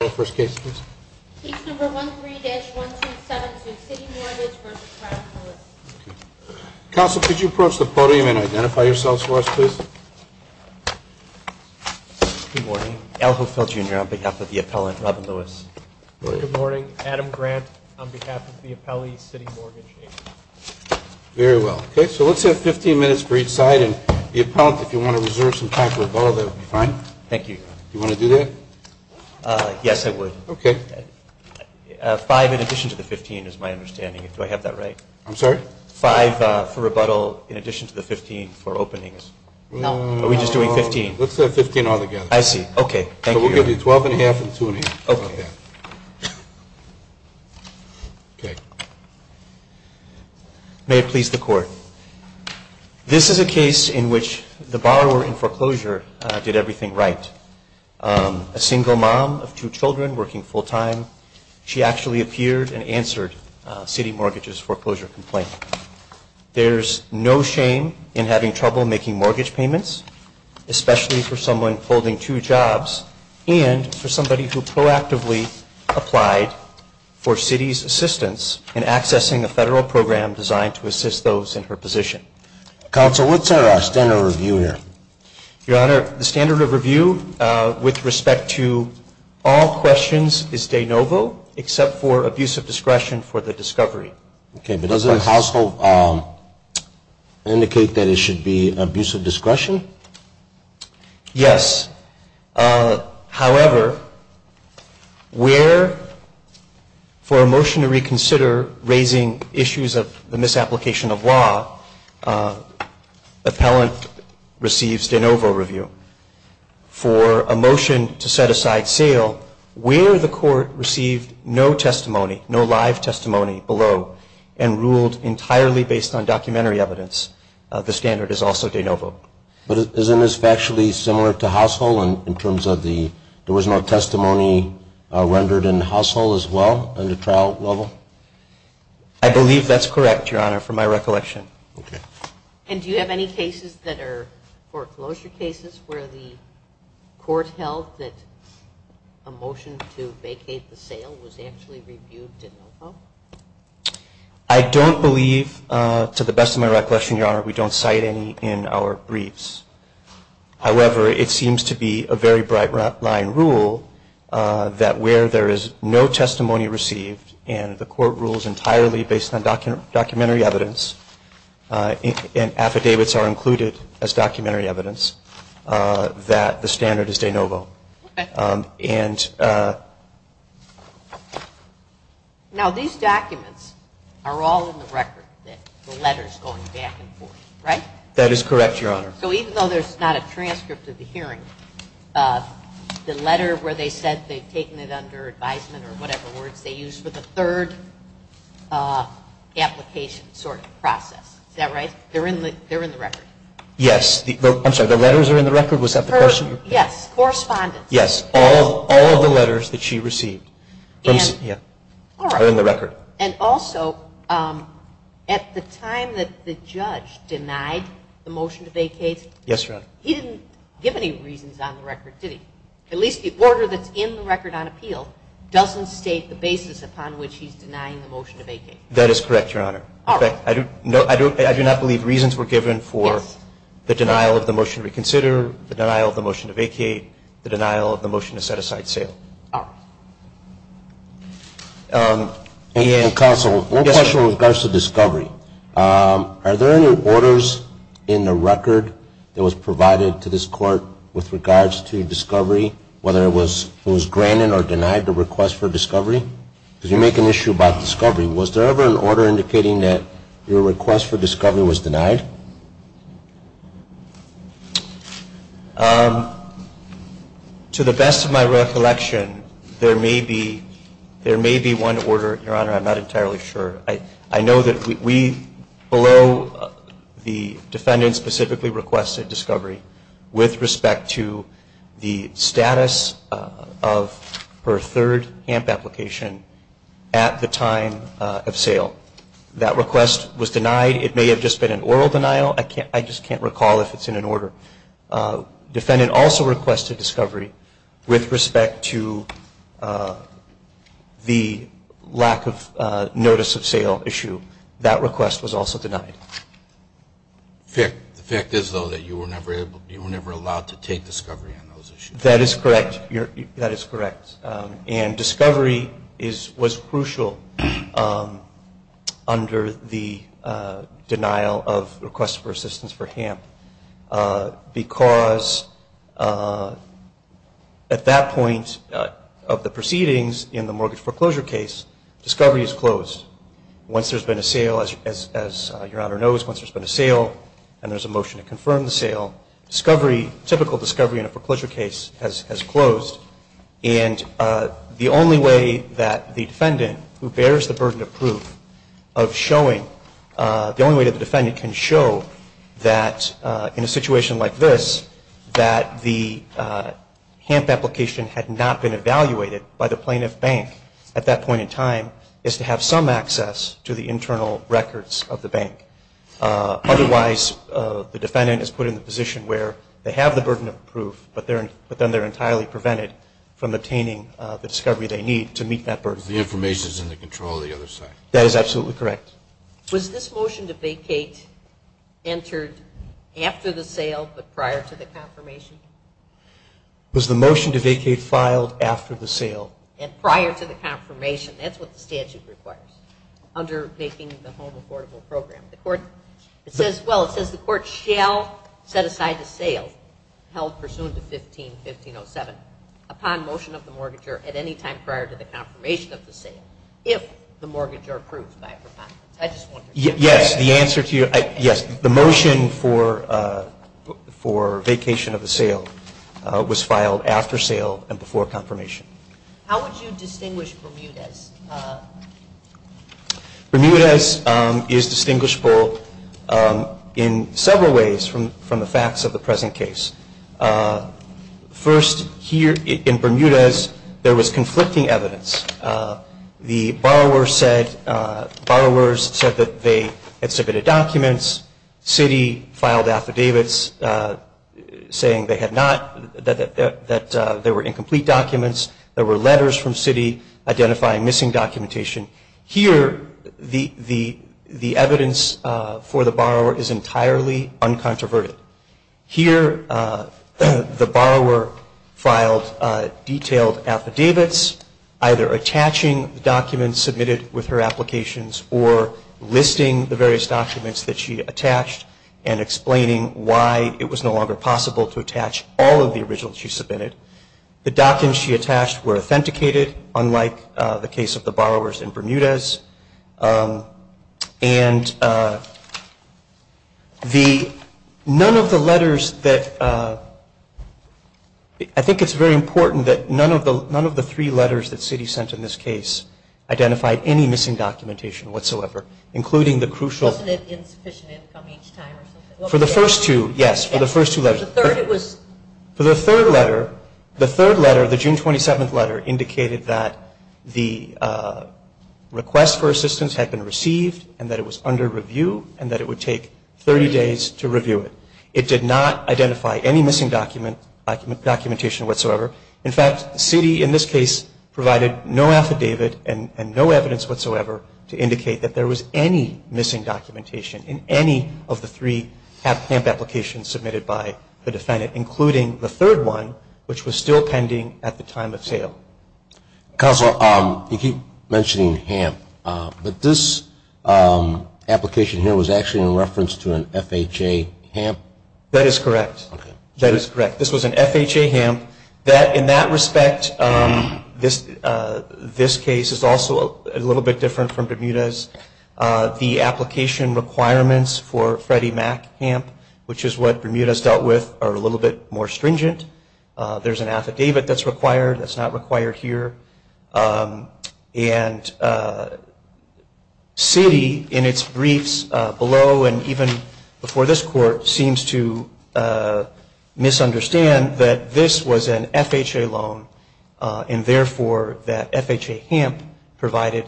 Council, could you approach the podium and identify yourselves for us, please? Good morning. Al Hofeld, Jr. on behalf of the appellant, Robin Lewis. Good morning. Adam Grant on behalf of the appellee, CitiMortgage, Inc. Very well. Okay, so let's have 15 minutes for each side. And the appellant, if you want to reserve some time for a vote, that would be fine. Thank you. Do you want to do that? Yes, I would. Okay. Five in addition to the 15 is my understanding. Do I have that right? I'm sorry? Five for rebuttal in addition to the 15 for openings. No. Are we just doing 15? Let's have 15 altogether. I see. Okay. Thank you. So we'll give you 12 1⁄2 and 2 1⁄2. Okay. Okay. May it please the Court. This is a case in which the borrower in foreclosure did everything right. A single mom of two children working full-time, she actually appeared and answered CitiMortgage's foreclosure complaint. There's no shame in having trouble making mortgage payments, especially for someone holding two jobs and for somebody who proactively applied for Citi's assistance in accessing a federal program designed to assist those in her position. Counsel, what's our standard of review here? Your Honor, the standard of review with respect to all questions is de novo, except for abuse of discretion for the discovery. Okay, but doesn't the household indicate that it should be abuse of discretion? Yes. However, where for a motion to reconsider raising issues of the misapplication of law, appellant receives de novo review. For a motion to set aside sale, where the court received no testimony, no live testimony below, and ruled entirely based on documentary evidence, the standard is also de novo. But isn't this factually similar to household in terms of the there was no testimony rendered in household as well in the trial level? I believe that's correct, Your Honor, from my recollection. Okay. And do you have any cases that are foreclosure cases where the court held that a motion to vacate the sale was actually reviewed de novo? I don't believe, to the best of my recollection, Your Honor, we don't cite any in our briefs. However, it seems to be a very bright line rule that where there is no testimony received and the court rules entirely based on documentary evidence and affidavits are included as documentary evidence, that the standard is de novo. Okay. Now, these documents are all in the record, the letters going back and forth, right? That is correct, Your Honor. So even though there's not a transcript of the hearing, the letter where they said they've taken it under advisement or whatever words they used for the third application sort of process, is that right? They're in the record? Yes. I'm sorry, the letters are in the record? Was that the question? Yes. Correspondence. Yes, all of the letters that she received are in the record. And also, at the time that the judge denied the motion to vacate? Yes, Your Honor. He didn't give any reasons on the record, did he? At least the order that's in the record on appeal doesn't state the basis upon which he's denying the motion to vacate. That is correct, Your Honor. In fact, I do not believe reasons were given for the denial of the motion to reconsider, the denial of the motion to vacate, the denial of the motion to set aside sale. All right. Counsel, one question with regards to discovery. Are there any orders in the record that was provided to this court with regards to discovery, whether it was granted or denied, the request for discovery? Because you make an issue about discovery. Was there ever an order indicating that your request for discovery was denied? To the best of my recollection, there may be one order, Your Honor. I'm not entirely sure. I know that we, below the defendant specifically requested discovery, with respect to the status of her third HAMP application at the time of sale. That request was denied. It may have just been an oral denial. I just can't recall if it's in an order. The defendant also requested discovery with respect to the lack of notice of sale issue. That request was also denied. The fact is, though, that you were never allowed to take discovery on those issues. That is correct. That is correct. And discovery was crucial under the denial of request for assistance for HAMP, because at that point of the proceedings in the mortgage foreclosure case, discovery is closed. Once there's been a sale, as Your Honor knows, once there's been a sale and there's a motion to confirm the sale, discovery, typical discovery in a foreclosure case has closed. And the only way that the defendant, who bears the burden of proof, of showing, the only way that the defendant can show that in a situation like this, that the HAMP application had not been evaluated by the plaintiff bank at that point in time, is to have some access to the internal records of the bank. Otherwise, the defendant is put in the position where they have the burden of proof, but then they're entirely prevented from obtaining the discovery they need to meet that burden. The information is in the control of the other side. That is absolutely correct. Was this motion to vacate entered after the sale but prior to the confirmation? Was the motion to vacate filed after the sale? And prior to the confirmation. That's what the statute requires under making the home affordable program. The court, it says, well, it says the court shall set aside the sale held pursuant to 15-1507 upon motion of the mortgager at any time prior to the confirmation of the sale if the mortgager approves by a preponderance. Yes, the answer to you, yes. The motion for vacation of the sale was filed after sale and before confirmation. How would you distinguish Bermudez? Bermudez is distinguishable in several ways from the facts of the present case. First, here in Bermudez, there was conflicting evidence. The borrower said, borrowers said that they had submitted documents. Citi filed affidavits saying they had not, that there were incomplete documents. There were letters from Citi identifying missing documentation. Here, the evidence for the borrower is entirely uncontroverted. Here, the borrower filed detailed affidavits, either attaching documents submitted with her applications or listing the various documents that she attached and explaining why it was no longer possible to attach all of the originals she submitted. The documents she attached were authenticated, unlike the case of the borrowers in Bermudez. And the, none of the letters that, I think it's very important that none of the three letters that Citi sent in this case identified any missing documentation whatsoever, including the crucial. Wasn't it insufficient income each time or something? For the first two, yes, for the first two letters. For the third it was. For the third letter, the third letter, the June 27th letter, indicated that the request for assistance had been received and that it was under review and that it would take 30 days to review it. It did not identify any missing documentation whatsoever. In fact, Citi in this case provided no affidavit and no evidence whatsoever to indicate that there was any missing documentation in any of the three HAMP applications submitted by the defendant, including the third one, which was still pending at the time of sale. Counselor, you keep mentioning HAMP, but this application here was actually in reference to an FHA HAMP? That is correct. Okay. That is correct. This was an FHA HAMP. In that respect, this case is also a little bit different from Bermudez. The application requirements for Freddie Mac HAMP, which is what Bermudez dealt with, are a little bit more stringent. There is an affidavit that is required that is not required here. And Citi, in its briefs below and even before this Court, seems to misunderstand that this was an FHA loan, and therefore that FHA HAMP provided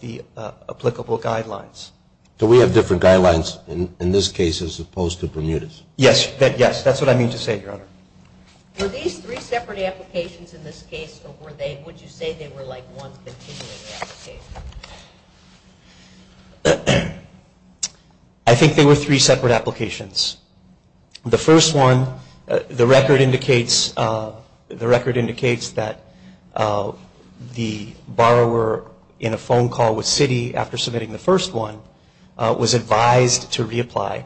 the applicable guidelines. Do we have different guidelines in this case as opposed to Bermudez? Yes. That is what I mean to say, Your Honor. Were these three separate applications in this case, or would you say they were like one continuing application? I think they were three separate applications. The first one, the record indicates that the borrower in a phone call with Citi after submitting the first one was advised to reapply.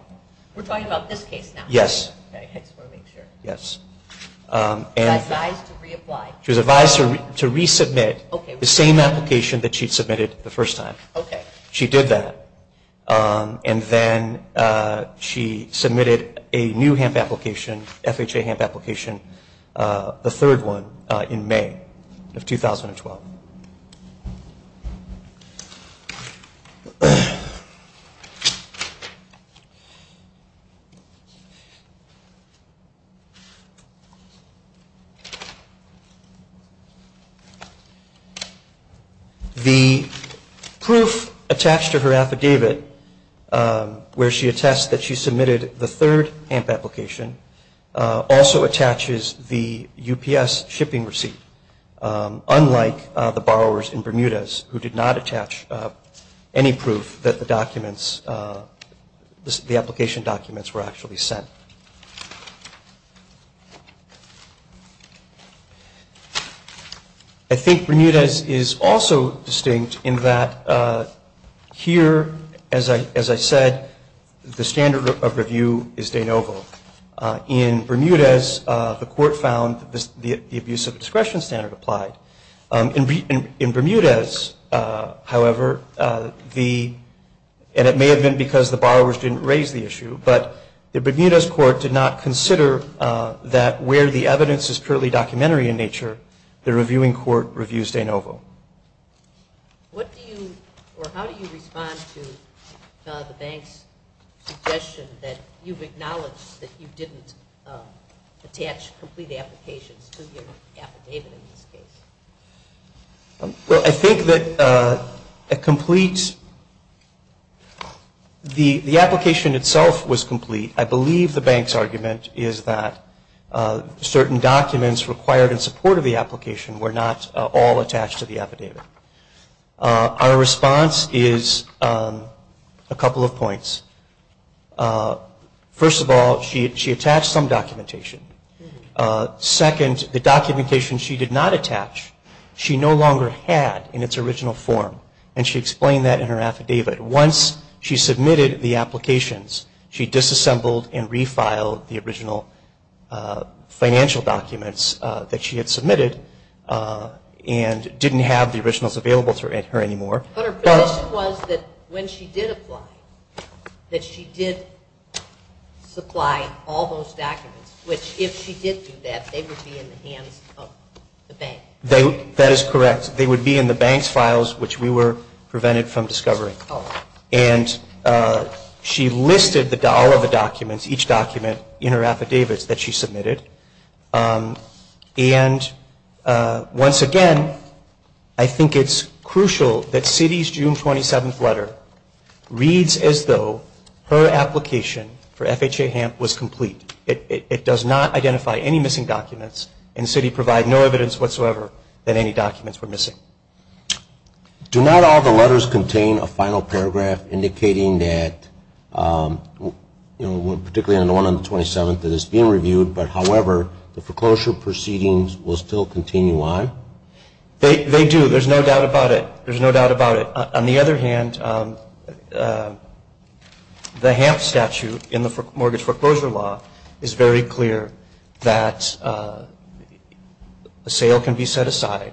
We are talking about this case now? Yes. Okay. I just want to make sure. Yes. She was advised to reapply? She was advised to resubmit the same application that she had submitted the first time. Okay. She did that. And then she submitted a new HAMP application, FHA HAMP application, the third one in May of 2012. The proof attached to her affidavit where she attests that she submitted the third HAMP application also attaches the UPS shipping receipt, unlike the borrowers in Bermudez, who did not attach any proof that the application documents were actually sent. I think Bermudez is also distinct in that here, as I said, the standard of review is de novo. In Bermudez, the court found the abuse of discretion standard applied. In Bermudez, however, and it may have been because the borrowers didn't raise the issue, but the Bermudez court did not consider that where the evidence is purely documentary in nature, the reviewing court reviews de novo. What do you, or how do you respond to the bank's suggestion that you've acknowledged that you didn't attach complete applications to your affidavit in this case? Well, I think that a complete, the application itself was complete. I believe the bank's argument is that certain documents required in support of the application were not all attached to the affidavit. Our response is a couple of points. First of all, she attached some documentation. Second, the documentation she did not attach, she no longer had in its original form, and she explained that in her affidavit. Once she submitted the applications, she disassembled and refiled the original financial documents that she had submitted and didn't have the originals available to her anymore. But her position was that when she did apply, that she did supply all those documents, which if she did do that, they would be in the hands of the bank. That is correct. They would be in the bank's files, which we were prevented from discovering. And she listed all of the documents, each document in her affidavits that she submitted. And once again, I think it's crucial that Citi's June 27th letter reads as though her application for FHA HAMP was complete. It does not identify any missing documents, and Citi provided no evidence whatsoever that any documents were missing. Do not all the letters contain a final paragraph indicating that, you know, particularly the one on the 27th that is being reviewed, but however, the foreclosure proceedings will still continue on? They do. There's no doubt about it. There's no doubt about it. On the other hand, the HAMP statute in the mortgage foreclosure law is very clear that a sale can be set aside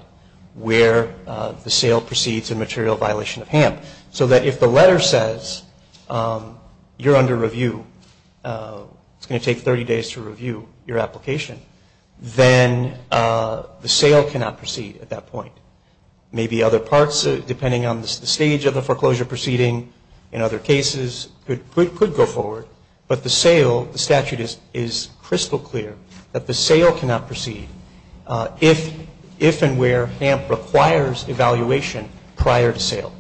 where the sale proceeds in material violation of HAMP. So that if the letter says you're under review, it's going to take 30 days to review your application, then the sale cannot proceed at that point. Maybe other parts, depending on the stage of the foreclosure proceeding in other cases, could go forward. But the sale, the statute is crystal clear that the sale cannot proceed if and where HAMP requires evaluation prior to sale.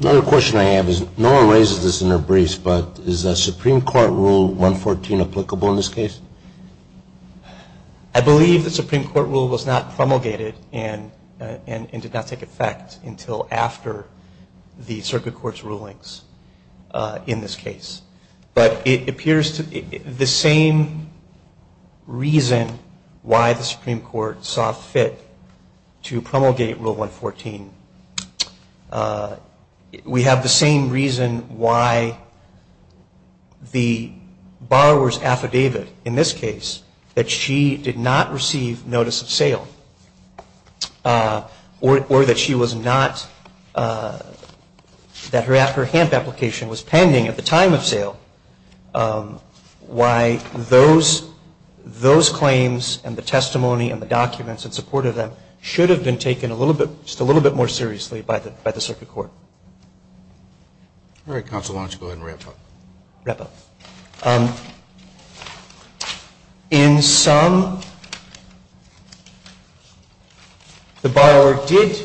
Another question I have is, no one raises this in their briefs, but is a Supreme Court Rule 114 applicable in this case? I believe the Supreme Court rule was not promulgated and did not take effect until after the circuit court's rulings in this case. But it appears the same reason why the Supreme Court saw fit to promulgate Rule 114, we have the same reason why the borrower's affidavit in this case, that she did not receive notice of sale, or that she was not, that her HAMP application was pending at the time of sale, why those claims and the testimony and the documents in support of them should have been taken just a little bit more seriously by the circuit court. All right, Counsel, why don't you go ahead and wrap up. Wrap up. In sum, the borrower did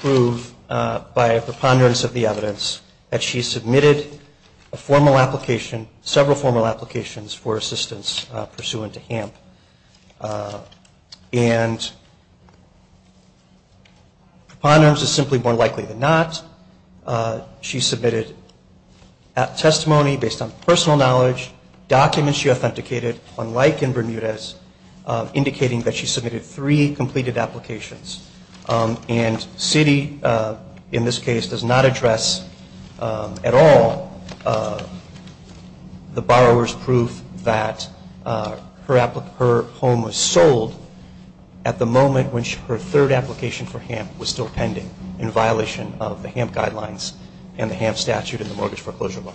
prove by a preponderance of the evidence that she submitted a formal application, several formal applications for assistance pursuant to HAMP. And preponderance is simply more likely than not. She submitted a testimony based on personal knowledge, documents she authenticated, unlike in Bermudez, indicating that she submitted three completed applications. And Citi, in this case, does not address at all the borrower's proof that her home was sold at the moment when her third application for HAMP was still pending in violation of the HAMP guidelines and the HAMP statute and the mortgage foreclosure law.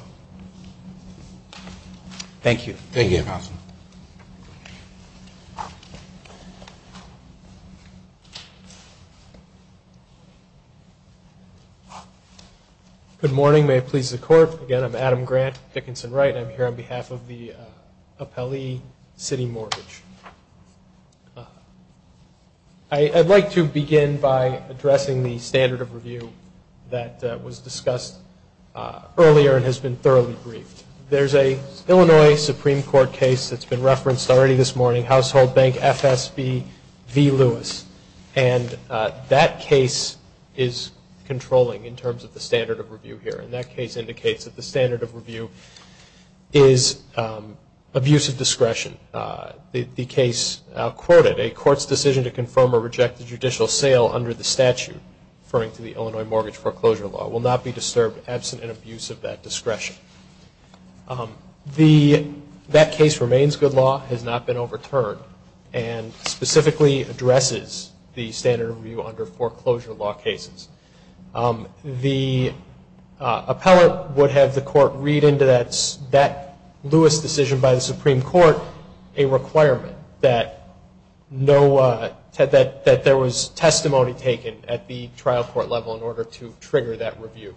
Thank you. Thank you, Counsel. Good morning. May it please the Court. Again, I'm Adam Grant, Dickinson-Wright. I'm here on behalf of the appellee Citi Mortgage. I'd like to begin by addressing the standard of review that was discussed earlier and has been thoroughly briefed. There's a Illinois Supreme Court case that's been referenced already this morning, Household Bank FSB v. Lewis. And that case is controlling in terms of the standard of review here. And that case indicates that the standard of review is abuse of discretion. The case quoted, a court's decision to confirm or reject the judicial sale under the statute, referring to the Illinois mortgage foreclosure law, will not be disturbed absent an abuse of that discretion. That case remains good law, has not been overturned, and specifically addresses the standard of review under foreclosure law cases. The appellate would have the court read into that Lewis decision by the Supreme Court a requirement that there was testimony taken at the trial court level in order to trigger that review.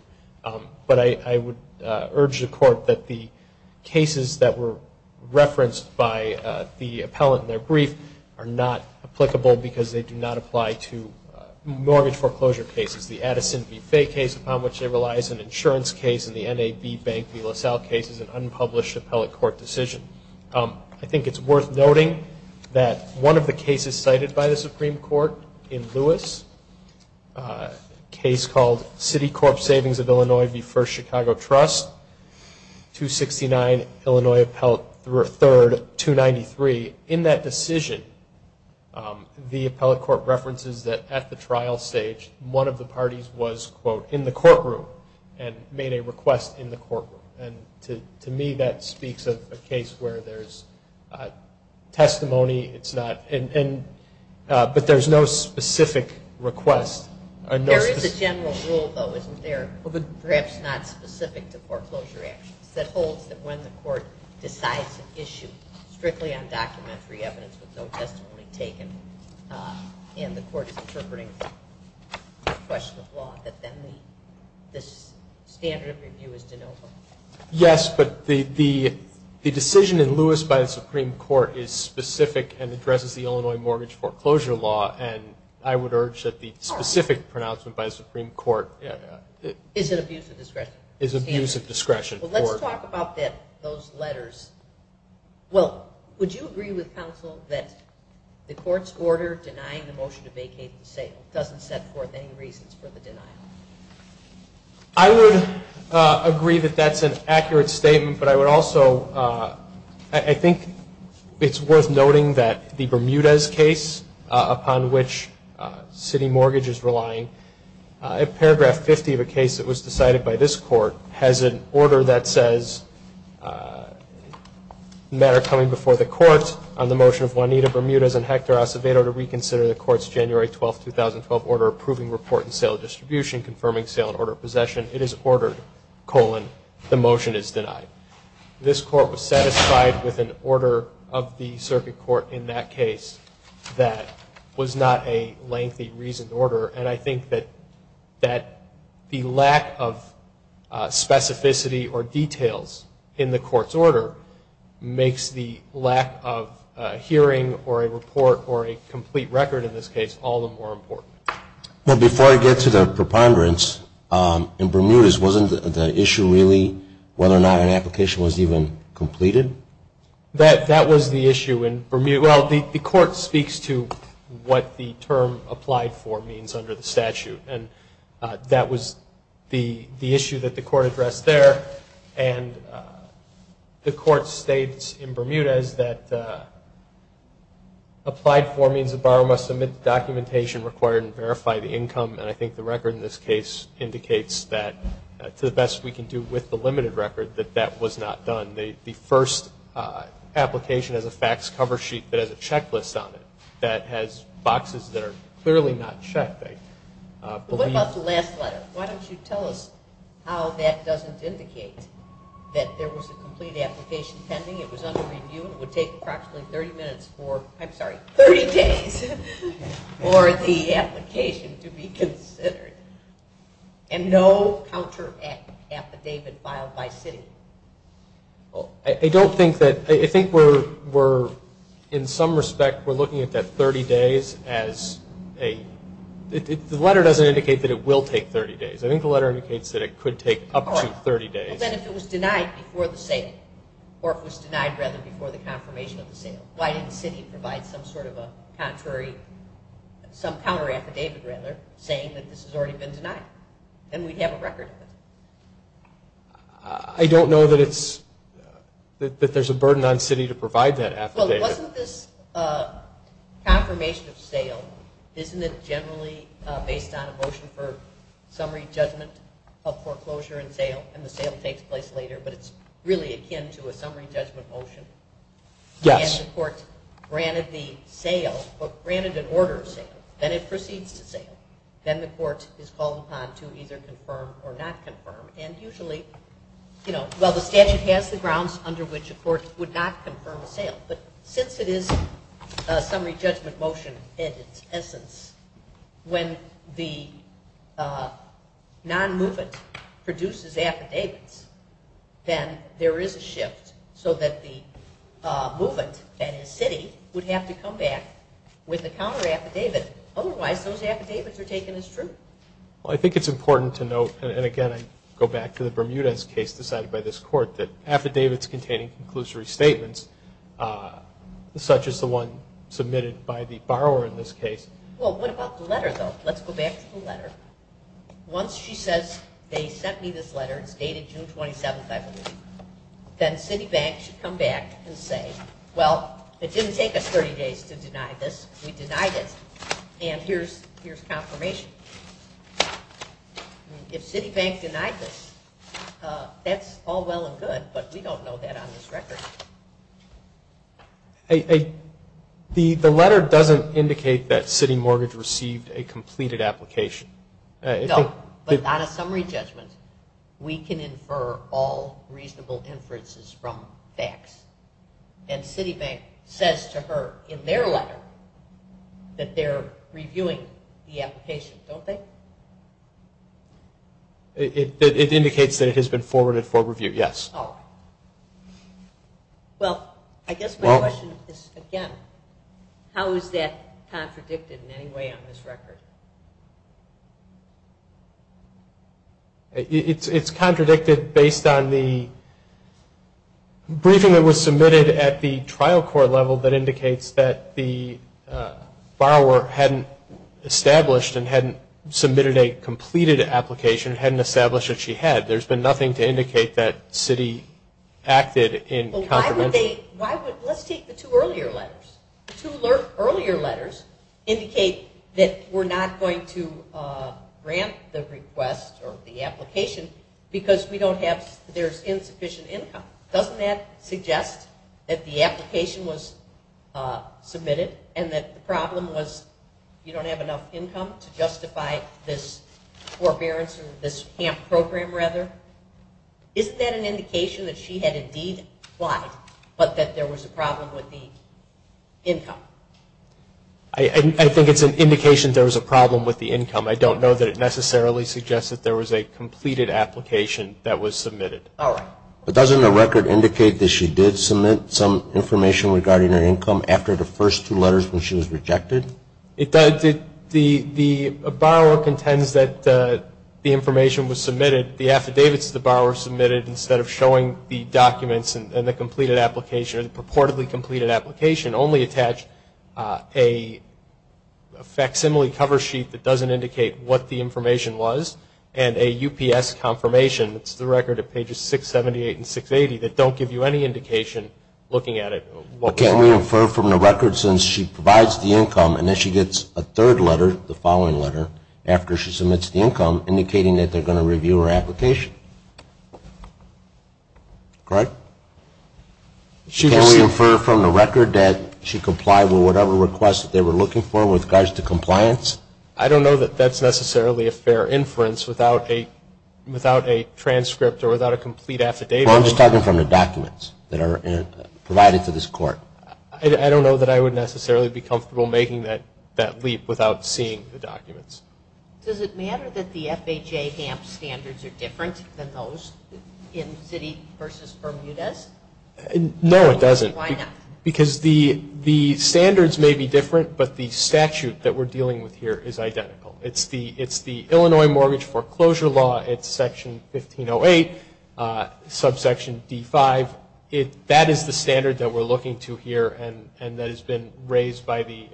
But I would urge the court that the cases that were referenced by the appellate in their brief are not applicable because they do not apply to mortgage foreclosure cases. The Addison v. Fay case, upon which they rely, is an insurance case. And the NAB Bank v. LaSalle case is an unpublished appellate court decision. I think it's worth noting that one of the cases cited by the Supreme Court in Lewis, a case called City Corp Savings of Illinois v. First Chicago Trust, 269 Illinois Appellate 3rd, 293. In that decision, the appellate court references that at the trial stage, one of the parties was, quote, in the courtroom and made a request in the courtroom. And to me, that speaks of a case where there's testimony, but there's no specific request. There is a general rule, though, isn't there, perhaps not specific to foreclosure actions, that holds that when the court decides an issue strictly on documentary evidence with no testimony taken and the court is interpreting a question of law, that then the standard of review is de novo? Yes, but the decision in Lewis by the Supreme Court is specific and addresses the Illinois mortgage foreclosure law, and I would urge that the specific pronouncement by the Supreme Court is abuse of discretion. Well, let's talk about those letters. Will, would you agree with counsel that the court's order denying the motion to vacate the sale doesn't set forth any reasons for the denial? I would agree that that's an accurate statement, but I would also, I think it's worth noting that the Bermudez case upon which City Mortgage is relying, paragraph 50 of a case that was decided by this court has an order that says, matter coming before the court on the motion of Juanita Bermudez and Hector Acevedo to reconsider the court's January 12, 2012, order approving report and sale distribution, confirming sale and order of possession. It is ordered, colon, the motion is denied. This court was satisfied with an order of the circuit court in that case that was not a lengthy reasoned order, and I think that the lack of specificity or details in the court's order makes the lack of hearing or a report or a complete record in this case all the more important. Now, before I get to the preponderance, in Bermudez, wasn't the issue really whether or not an application was even completed? That was the issue in Bermudez. Well, the court speaks to what the term applied for means under the statute, and that was the issue that the court addressed there. And the court states in Bermudez that applied for means a borrower must submit documentation required and verify the income, and I think the record in this case indicates that, to the best we can do with the limited record, that that was not done. The first application has a fax cover sheet that has a checklist on it that has boxes that are clearly not checked. What about the last letter? Why don't you tell us how that doesn't indicate that there was a complete application pending, it was under review, and it would take approximately 30 minutes for the application to be considered, and no counter affidavit filed by city? I don't think that, I think we're, in some respect, we're looking at that 30 days as a, the letter doesn't indicate that it will take 30 days. I think the letter indicates that it could take up to 30 days. Well, then if it was denied before the sale, or if it was denied rather before the confirmation of the sale, why didn't the city provide some sort of a contrary, some counter affidavit rather, saying that this has already been denied? Then we'd have a record of it. I don't know that it's, that there's a burden on city to provide that affidavit. Well, wasn't this confirmation of sale, isn't it generally based on a motion for summary judgment of foreclosure and sale, and the sale takes place later, but it's really akin to a summary judgment motion? Yes. When the court granted the sale, granted an order of sale, then it proceeds to sale, then the court is called upon to either confirm or not confirm, and usually, you know, well, the statute has the grounds under which a court would not confirm a sale, but since it is a summary judgment motion in its essence, when the non-movement produces affidavits, then there is a shift so that the movement, that is, city, would have to come back with a counter affidavit. Otherwise, those affidavits are taken as true. Well, I think it's important to note, and again I go back to the Bermudez case decided by this court, that affidavits containing conclusory statements, such as the one submitted by the borrower in this case. Well, what about the letter, though? Let's go back to the letter. Once she says, they sent me this letter, it's dated June 27th, I believe, then Citibank should come back and say, well, it didn't take us 30 days to deny this, we denied it, and here's confirmation. If Citibank denied this, that's all well and good, but we don't know that on this record. The letter doesn't indicate that City Mortgage received a completed application. No, but on a summary judgment, we can infer all reasonable inferences from facts, and Citibank says to her in their letter that they're reviewing the application, don't they? It indicates that it has been forwarded for review, yes. Well, I guess my question is, again, how is that contradicted in any way on this record? It's contradicted based on the briefing that was submitted at the trial court level that indicates that the borrower hadn't established and hadn't submitted a completed application, hadn't established what she had. There's been nothing to indicate that City acted in confirmation. Let's take the two earlier letters. The two earlier letters indicate that we're not going to grant the request or the application because there's insufficient income. Doesn't that suggest that the application was submitted and that the problem was you don't have enough income to justify this forbearance or this camp program, rather? Isn't that an indication that she had indeed applied, but that there was a problem with the income? I think it's an indication there was a problem with the income. I don't know that it necessarily suggests that there was a completed application that was submitted. All right. But doesn't the record indicate that she did submit some information regarding her income after the first two letters when she was rejected? The borrower contends that the information was submitted. The affidavits the borrower submitted, instead of showing the documents and the completed application or the purportedly completed application, only attached a facsimile cover sheet that doesn't indicate what the information was and a UPS confirmation. It's the record at pages 678 and 680 that don't give you any indication looking at it. Can we infer from the record since she provides the income and then she gets a third letter, the following letter, after she submits the income, indicating that they're going to review her application? Greg? Can we infer from the record that she complied with whatever request they were looking for with regards to compliance? I don't know that that's necessarily a fair inference without a transcript or without a complete affidavit. I'm just talking from the documents that are provided to this court. I don't know that I would necessarily be comfortable making that leap without seeing the documents. Does it matter that the FHA HAMP standards are different than those in Citi v. Bermudez? No, it doesn't. Why not? Because the standards may be different, but the statute that we're dealing with here is identical. It's the Illinois Mortgage Foreclosure Law. It's Section 1508, subsection D5. That is the standard that we're looking to here and that has been raised by the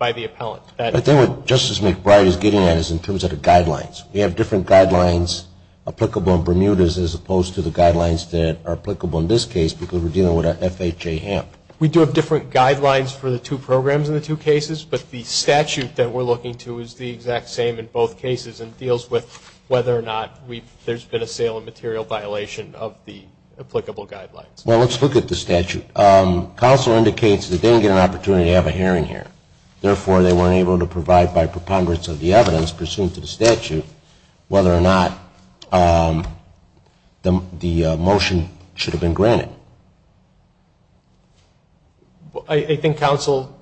appellant. I think what Justice McBride is getting at is in terms of the guidelines. We have different guidelines applicable in Bermudez as opposed to the guidelines that are applicable in this case because we're dealing with a FHA HAMP. We do have different guidelines for the two programs in the two cases, but the statute that we're looking to is the exact same in both cases and deals with whether or not there's been a sale and material violation of the applicable guidelines. Well, let's look at the statute. Counselor indicates that they didn't get an opportunity to have a hearing here. Therefore, they weren't able to provide by preponderance of the evidence pursuant to the statute whether or not the motion should have been granted. I think counsel,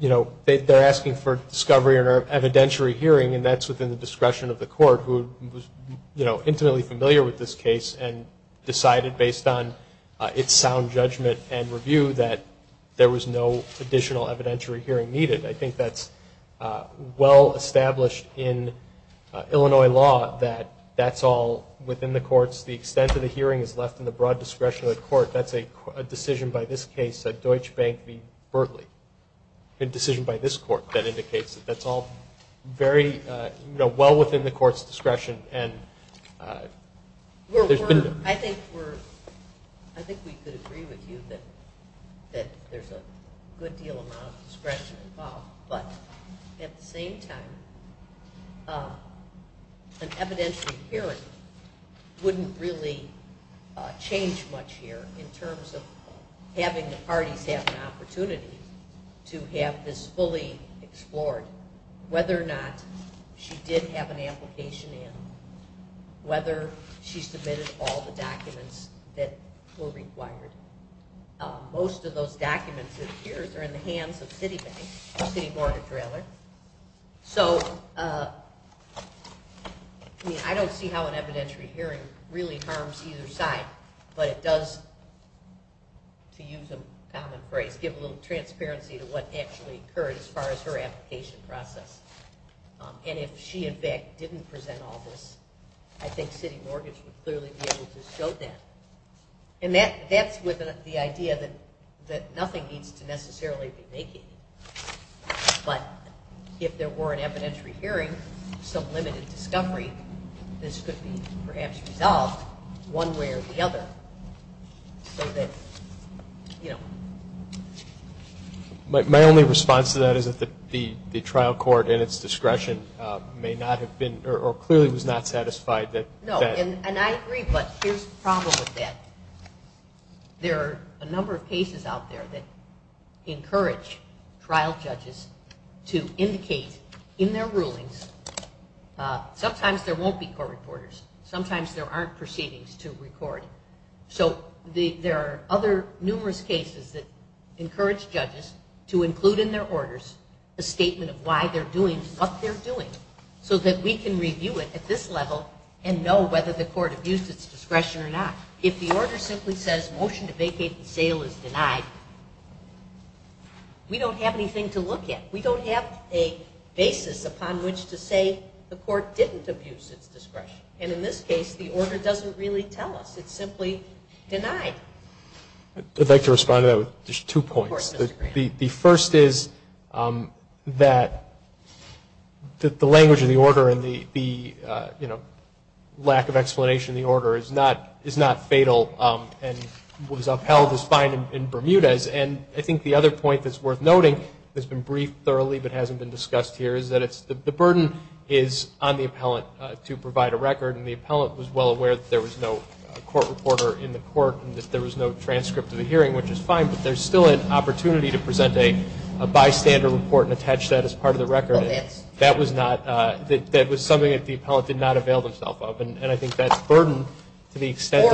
you know, they're asking for discovery or evidentiary hearing and that's within the discretion of the court who was, you know, intimately familiar with this case and decided based on its sound judgment and review that there was no additional evidentiary hearing needed. I think that's well established in Illinois law that that's all within the courts. The extent of the hearing is left in the broad discretion of the court but that's a decision by this case that Deutsche Bank v. Berkeley, a decision by this court that indicates that that's all very, you know, well within the court's discretion and there's been. I think we're, I think we could agree with you that there's a good deal amount of discretion involved, but at the same time an evidentiary hearing wouldn't really change much here in terms of having the parties have an opportunity to have this fully explored, whether or not she did have an application in, whether she submitted all the documents that were required. Most of those documents that appears are in the hands of Citibank, the city mortgage railer. So, I mean, I don't see how an evidentiary hearing really harms either side, but it does, to use a common phrase, give a little transparency to what actually occurred as far as her application process. And if she in fact didn't present all this, I think city mortgage would clearly be able to show that. And that's with the idea that nothing needs to necessarily be naked, but if there were an evidentiary hearing, some limited discovery, this could be perhaps resolved one way or the other so that, you know. My only response to that is that the trial court in its discretion may not have been or clearly was not satisfied that that. And I agree, but here's the problem with that. There are a number of cases out there that encourage trial judges to indicate in their rulings. Sometimes there won't be court reporters. Sometimes there aren't proceedings to record. So there are other numerous cases that encourage judges to include in their orders a statement of why they're doing what they're doing so that we can review it at this level and know whether the court abused its discretion or not. If the order simply says motion to vacate the sale is denied, we don't have anything to look at. We don't have a basis upon which to say the court didn't abuse its discretion. And in this case, the order doesn't really tell us. It's simply denied. I'd like to respond to that with just two points. Of course, Mr. Graham. The first is that the language of the order and the lack of explanation of the order is not fatal and was upheld as fine in Bermuda. And I think the other point that's worth noting that's been briefed thoroughly but hasn't been discussed here is that the burden is on the appellant to provide a record, and the appellant was well aware that there was no court reporter in the court and that there was no transcript of the hearing, which is fine, but there's still an opportunity to present a bystander report and attach that as part of the record. That was something that the appellant did not avail themself of, and I think that's a burden to the extent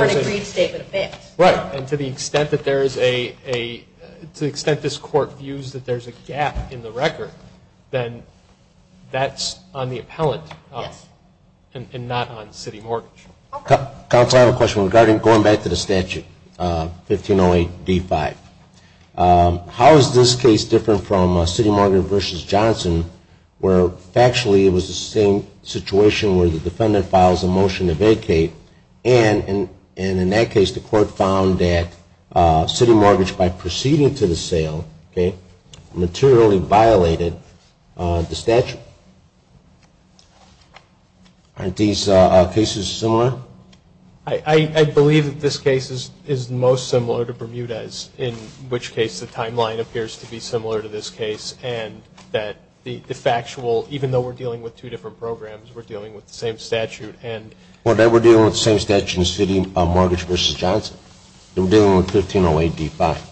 that there's a gap in the record, then that's on the appellant and not on city mortgage. Counsel, I have a question regarding going back to the statute, 1508D5. How is this case different from City Mortgage v. Johnson where factually it was the same situation where the defendant files a motion to vacate and in that case the court found that city mortgage, by proceeding to the sale, materially violated the statute? Aren't these cases similar? I believe that this case is most similar to Bermuda's, in which case the timeline appears to be similar to this case and that the factual, even though we're dealing with two different programs, we're dealing with the same statute. Well, then we're dealing with the same statute in City Mortgage v. Johnson. I'm dealing with 1508D5.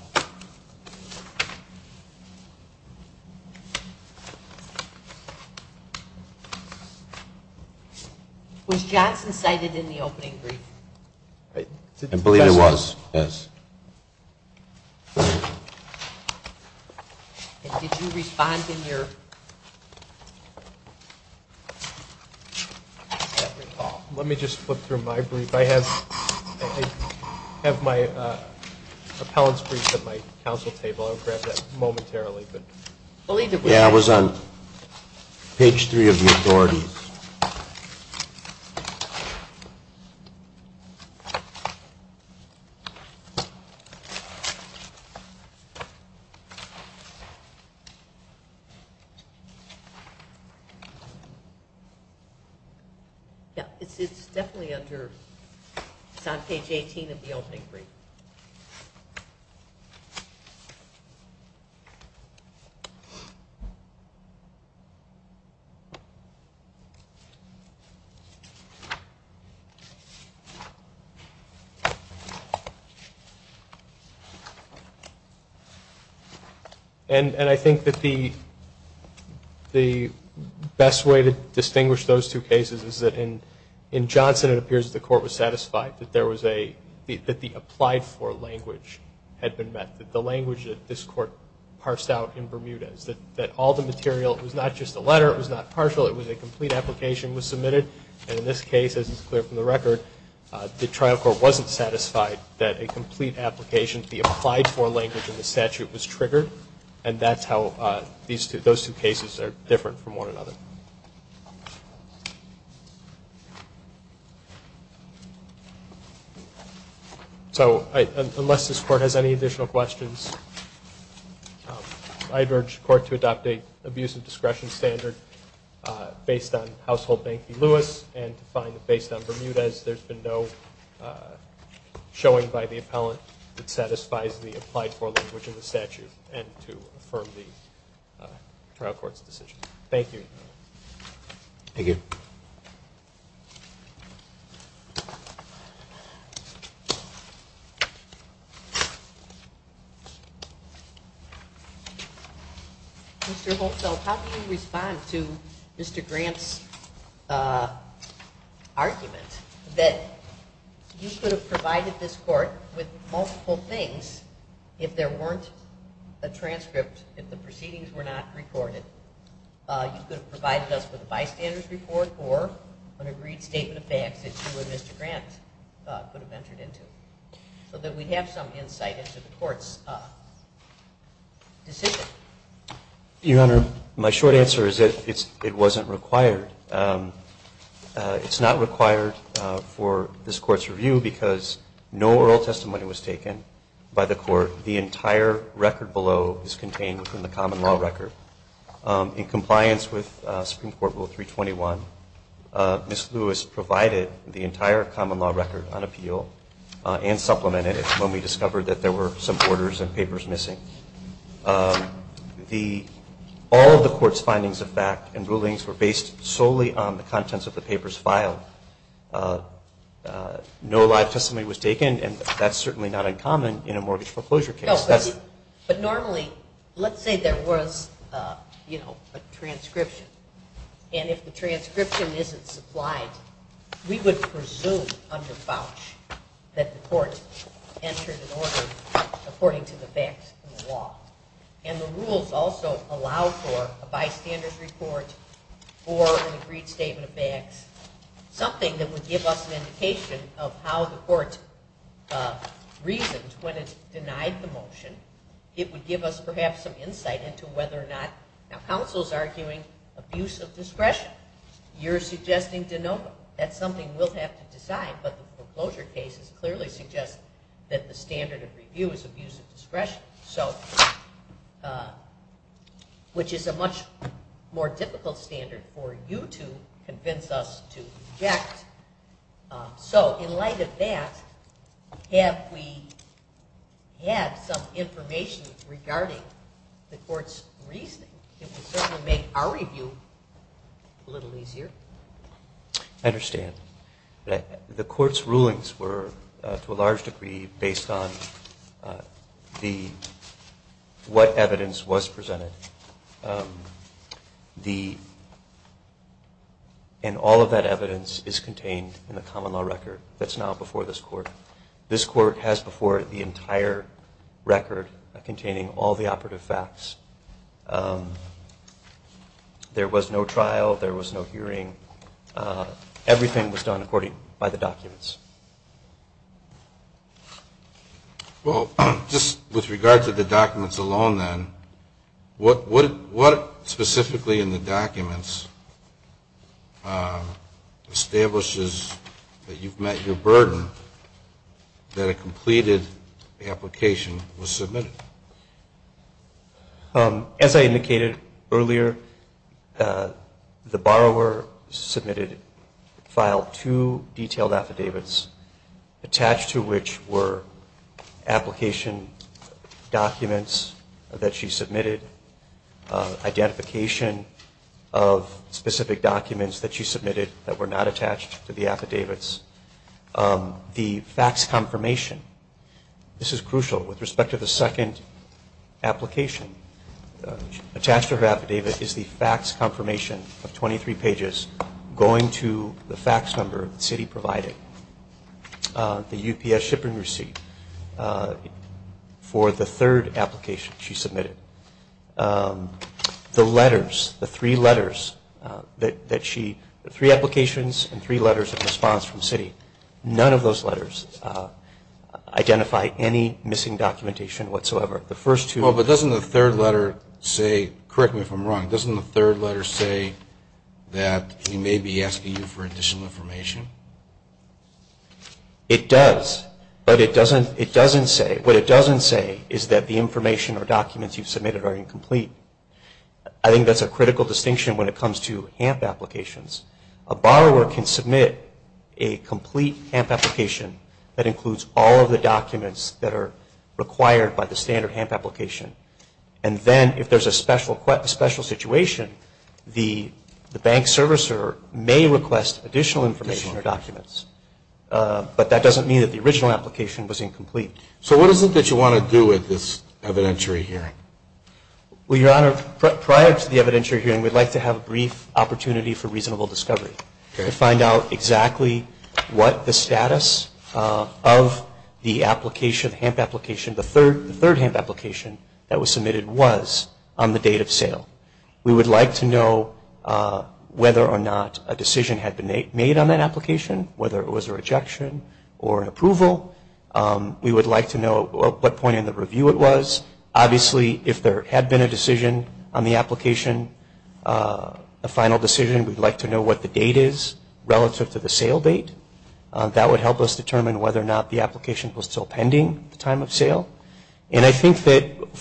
Was Johnson cited in the opening brief? I believe it was, yes. Did you respond in your? Let me just flip through my brief. If I have my appellant's brief at my counsel table, I'll grab that momentarily. Yeah, it was on page 3 of the authority. It's definitely under, it's on page 18 of the opening brief. And I think that the best way to distinguish those two cases is that in Johnson, it appears that the court was satisfied that there was a, that the applied for language had been met, that the language that this court parsed out in Bermuda is that all the material, it was not just a letter, it was not partial, it was a complete application was submitted. And in this case, as is clear from the record, the trial court wasn't satisfied that a complete application, the applied for language in the statute was triggered. And that's how those two cases are different from one another. So unless this court has any additional questions, I'd urge the court to adopt an abusive discretion standard based on Household Bank v. Lewis and to find that based on Bermuda as there's been no showing by the appellant that satisfies the applied for language in the statute and to affirm the trial court's decision. Thank you. Thank you. Mr. Holtfeld, how do you respond to Mr. Grant's argument that you could have provided this court with multiple things if there weren't a transcript, if the proceedings were not recorded? You could have provided us with a bystander's report or an agreed statement of facts that you and Mr. Grant could have entered into so that we'd have some insight into the court's decision. Your Honor, my short answer is that it wasn't required. It's not required for this court's review because no oral testimony was taken by the court. The entire record below is contained within the common law record. In compliance with Supreme Court Rule 321, Ms. Lewis provided the entire common law record on appeal and supplemented it when we discovered that there were some orders and papers missing. All of the court's findings of fact and rulings were based solely on the contents of the papers filed. No live testimony was taken, and that's certainly not uncommon in a mortgage foreclosure case. But normally, let's say there was a transcription, and if the transcription isn't supplied, we would presume under vouch that the court entered an order according to the facts in the law. And the rules also allow for a bystander's report or an agreed statement of facts, something that would give us an indication of how the court reasoned when it denied the motion. It would give us perhaps some insight into whether or not, Now counsel's arguing abuse of discretion. You're suggesting de novo. That's something we'll have to decide, but the foreclosure cases clearly suggest that the standard of review is abuse of discretion, which is a much more difficult standard for you to convince us to reject. So in light of that, have we had some information regarding the court's reasoning? It would certainly make our review a little easier. I understand. The court's rulings were, to a large degree, based on what evidence was presented. And all of that evidence is contained in the common law record that's now before this court. This court has before it the entire record containing all the operative facts. There was no trial. There was no hearing. Everything was done according to the documents. Well, just with regard to the documents alone then, what specifically in the documents establishes that you've met your burden, that a completed application was submitted? As I indicated earlier, the borrower submitted a file, two detailed affidavits attached to which were application documents that she submitted, identification of specific documents that she submitted that were not attached to the affidavits, the facts confirmation. This is crucial with respect to the second application. Attached to her affidavit is the facts confirmation of 23 pages going to the facts number that Citi provided, the UPS shipping receipt for the third application she submitted. The letters, the three letters that she, the three applications and three letters of response from Citi, none of those letters identify any missing documentation whatsoever. Well, but doesn't the third letter say, correct me if I'm wrong, doesn't the third letter say that we may be asking you for additional information? It does, but it doesn't say, what it doesn't say is that the information or documents you've submitted are incomplete. I think that's a critical distinction when it comes to HAMP applications. A borrower can submit a complete HAMP application that includes all of the documents that are required by the standard HAMP application, and then if there's a special situation, the bank servicer may request additional information or documents. But that doesn't mean that the original application was incomplete. So what is it that you want to do at this evidentiary hearing? Well, Your Honor, prior to the evidentiary hearing, we'd like to have a brief opportunity for reasonable discovery to find out exactly what the status of the application, the HAMP application, the third HAMP application that was submitted was on the date of sale. We would like to know whether or not a decision had been made on that application, whether it was a rejection or an approval. We would like to know what point in the review it was. Obviously, if there had been a decision on the application, a final decision, we'd like to know what the date is relative to the sale date. That would help us determine whether or not the application was still pending at the time of sale. And I think that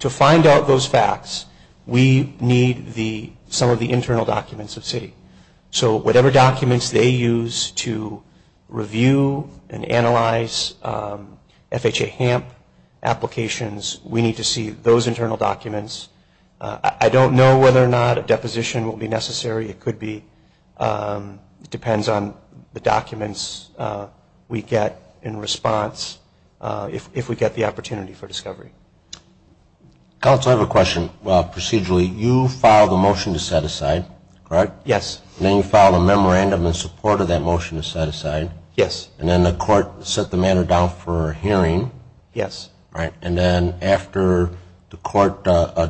to find out those facts, we need some of the internal documents of CITI. So whatever documents they use to review and analyze FHA HAMP applications, we need to see those internal documents. I don't know whether or not a deposition will be necessary. It could be. It depends on the documents we get in response if we get the opportunity for discovery. I also have a question. Procedurally, you filed a motion to set aside, correct? Yes. And then you filed a memorandum in support of that motion to set aside. Yes. And then the court set the matter down for a hearing. Yes. And then after the court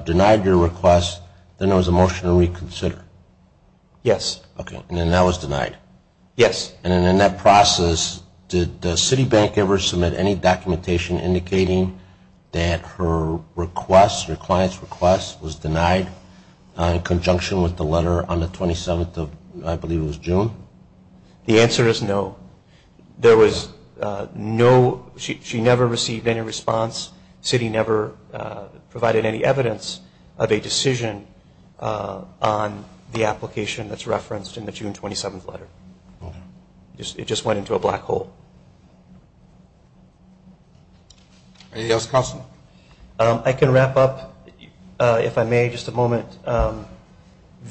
denied your request, then there was a motion to reconsider. Yes. And then that was denied. Yes. And in that process, did CITI Bank ever submit any documentation indicating that her request, her client's request, was denied in conjunction with the letter on the 27th of, I believe it was June? The answer is no. There was no, she never received any response. CITI never provided any evidence of a decision on the application that's referenced in the June 27th letter. It just went into a black hole. Anything else, counsel? I can wrap up, if I may, just a moment.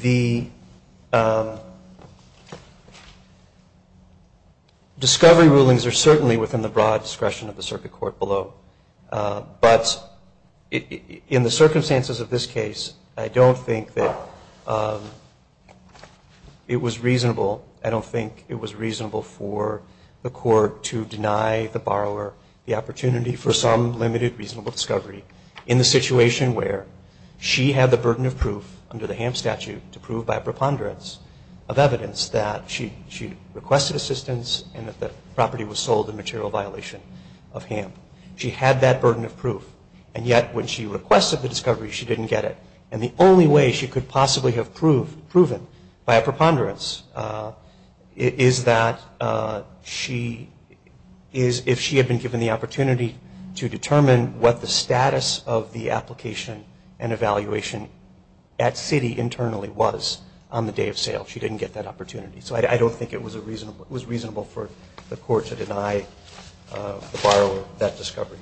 The discovery rulings are certainly within the broad discretion of the circuit court below. But in the circumstances of this case, I don't think that it was reasonable. I don't think it was reasonable for the court to deny the borrower the opportunity for some limited, reasonable discovery in the situation where she had the burden of proof under the HAMP statute to prove by a preponderance of evidence that she requested assistance and that the property was sold in material violation of HAMP. She had that burden of proof, and yet when she requested the discovery, she didn't get it. And the only way she could possibly have proven by a preponderance is that she, is if she had been given the opportunity to determine what the status of the application and evaluation at CITI internally was on the day of sale. She didn't get that opportunity. So I don't think it was reasonable for the court to deny the borrower that discovery.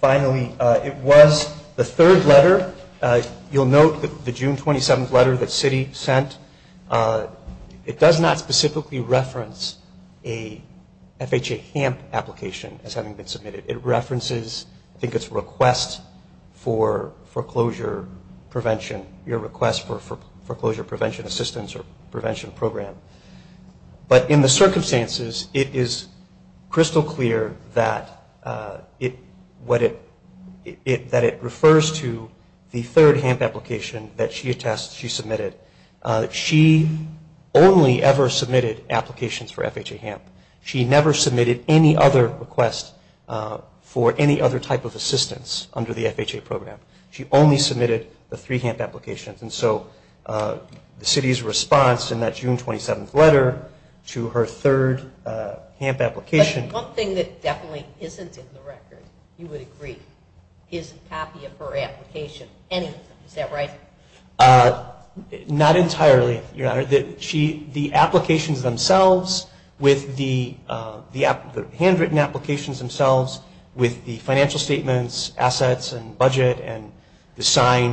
Finally, it was the third letter. You'll note the June 27th letter that CITI sent. It does not specifically reference a FHA HAMP application as having been submitted. It references, I think it's request for foreclosure prevention, your request for foreclosure prevention assistance or prevention program. But in the circumstances, it is crystal clear that it refers to the third HAMP application that she attests she submitted. She only ever submitted applications for FHA HAMP. She never submitted any other request for any other type of assistance under the FHA program. She only submitted the three HAMP applications. And so the CITI's response in that June 27th letter to her third HAMP application. But one thing that definitely isn't in the record, you would agree, is a copy of her application, any of them. Is that right? Not entirely, Your Honor. The applications themselves with the handwritten applications themselves, with the financial statements, assets, and budget, and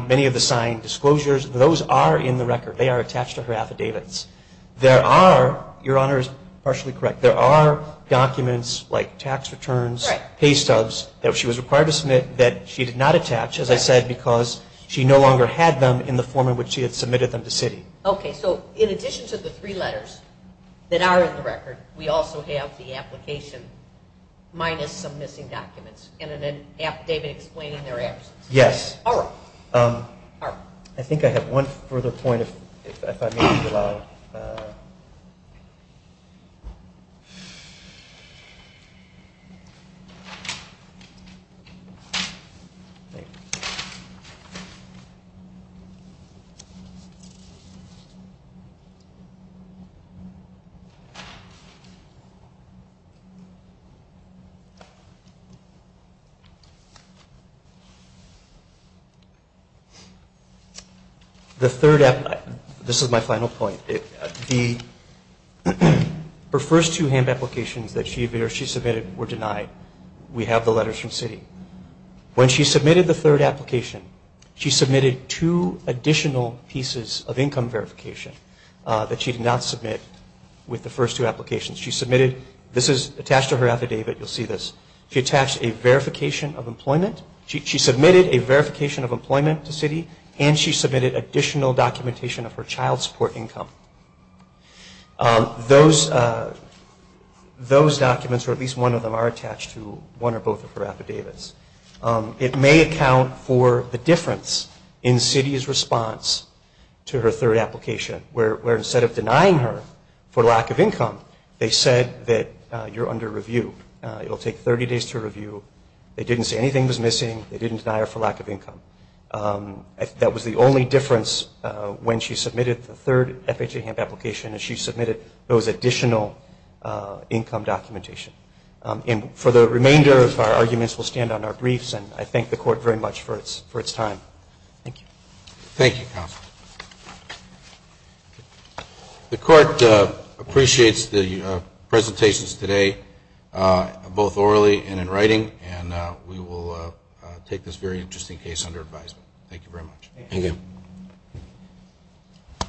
many of the signed disclosures, those are in the record. They are attached to her affidavits. There are, Your Honor is partially correct, there are documents like tax returns, pay stubs that she was required to submit that she did not attach, as I said, because she no longer had them in the form in which she had submitted them to CITI. Okay. So in addition to the three letters that are in the record, we also have the application minus some missing documents. And then David explaining their absence. Yes. All right. I think I have one further point if I may be allowed. The third application, this is my final point. The first two hand applications that she submitted were denied. We have the letters from CITI. When she submitted the third application, she submitted two additional pieces of income verification that she did not submit with the first two applications. She submitted, this is attached to her affidavit, you'll see this. She attached a verification of employment. She submitted a verification of employment to CITI and she submitted additional documentation of her child support income. Those documents or at least one of them are attached to one or both of her affidavits. It may account for the difference in CITI's response to her third application where instead of denying her for lack of income, they said that you're under review. It will take 30 days to review. They didn't say anything was missing. They didn't deny her for lack of income. That was the only difference when she submitted the third FHA Hemp application is she submitted those additional income documentation. And for the remainder of our arguments, we'll stand on our briefs, and I thank the Court very much for its time. Thank you. Thank you, Counsel. The Court appreciates the presentations today, both orally and in writing, and we will take this very interesting case under advisement. Thank you very much. Thank you.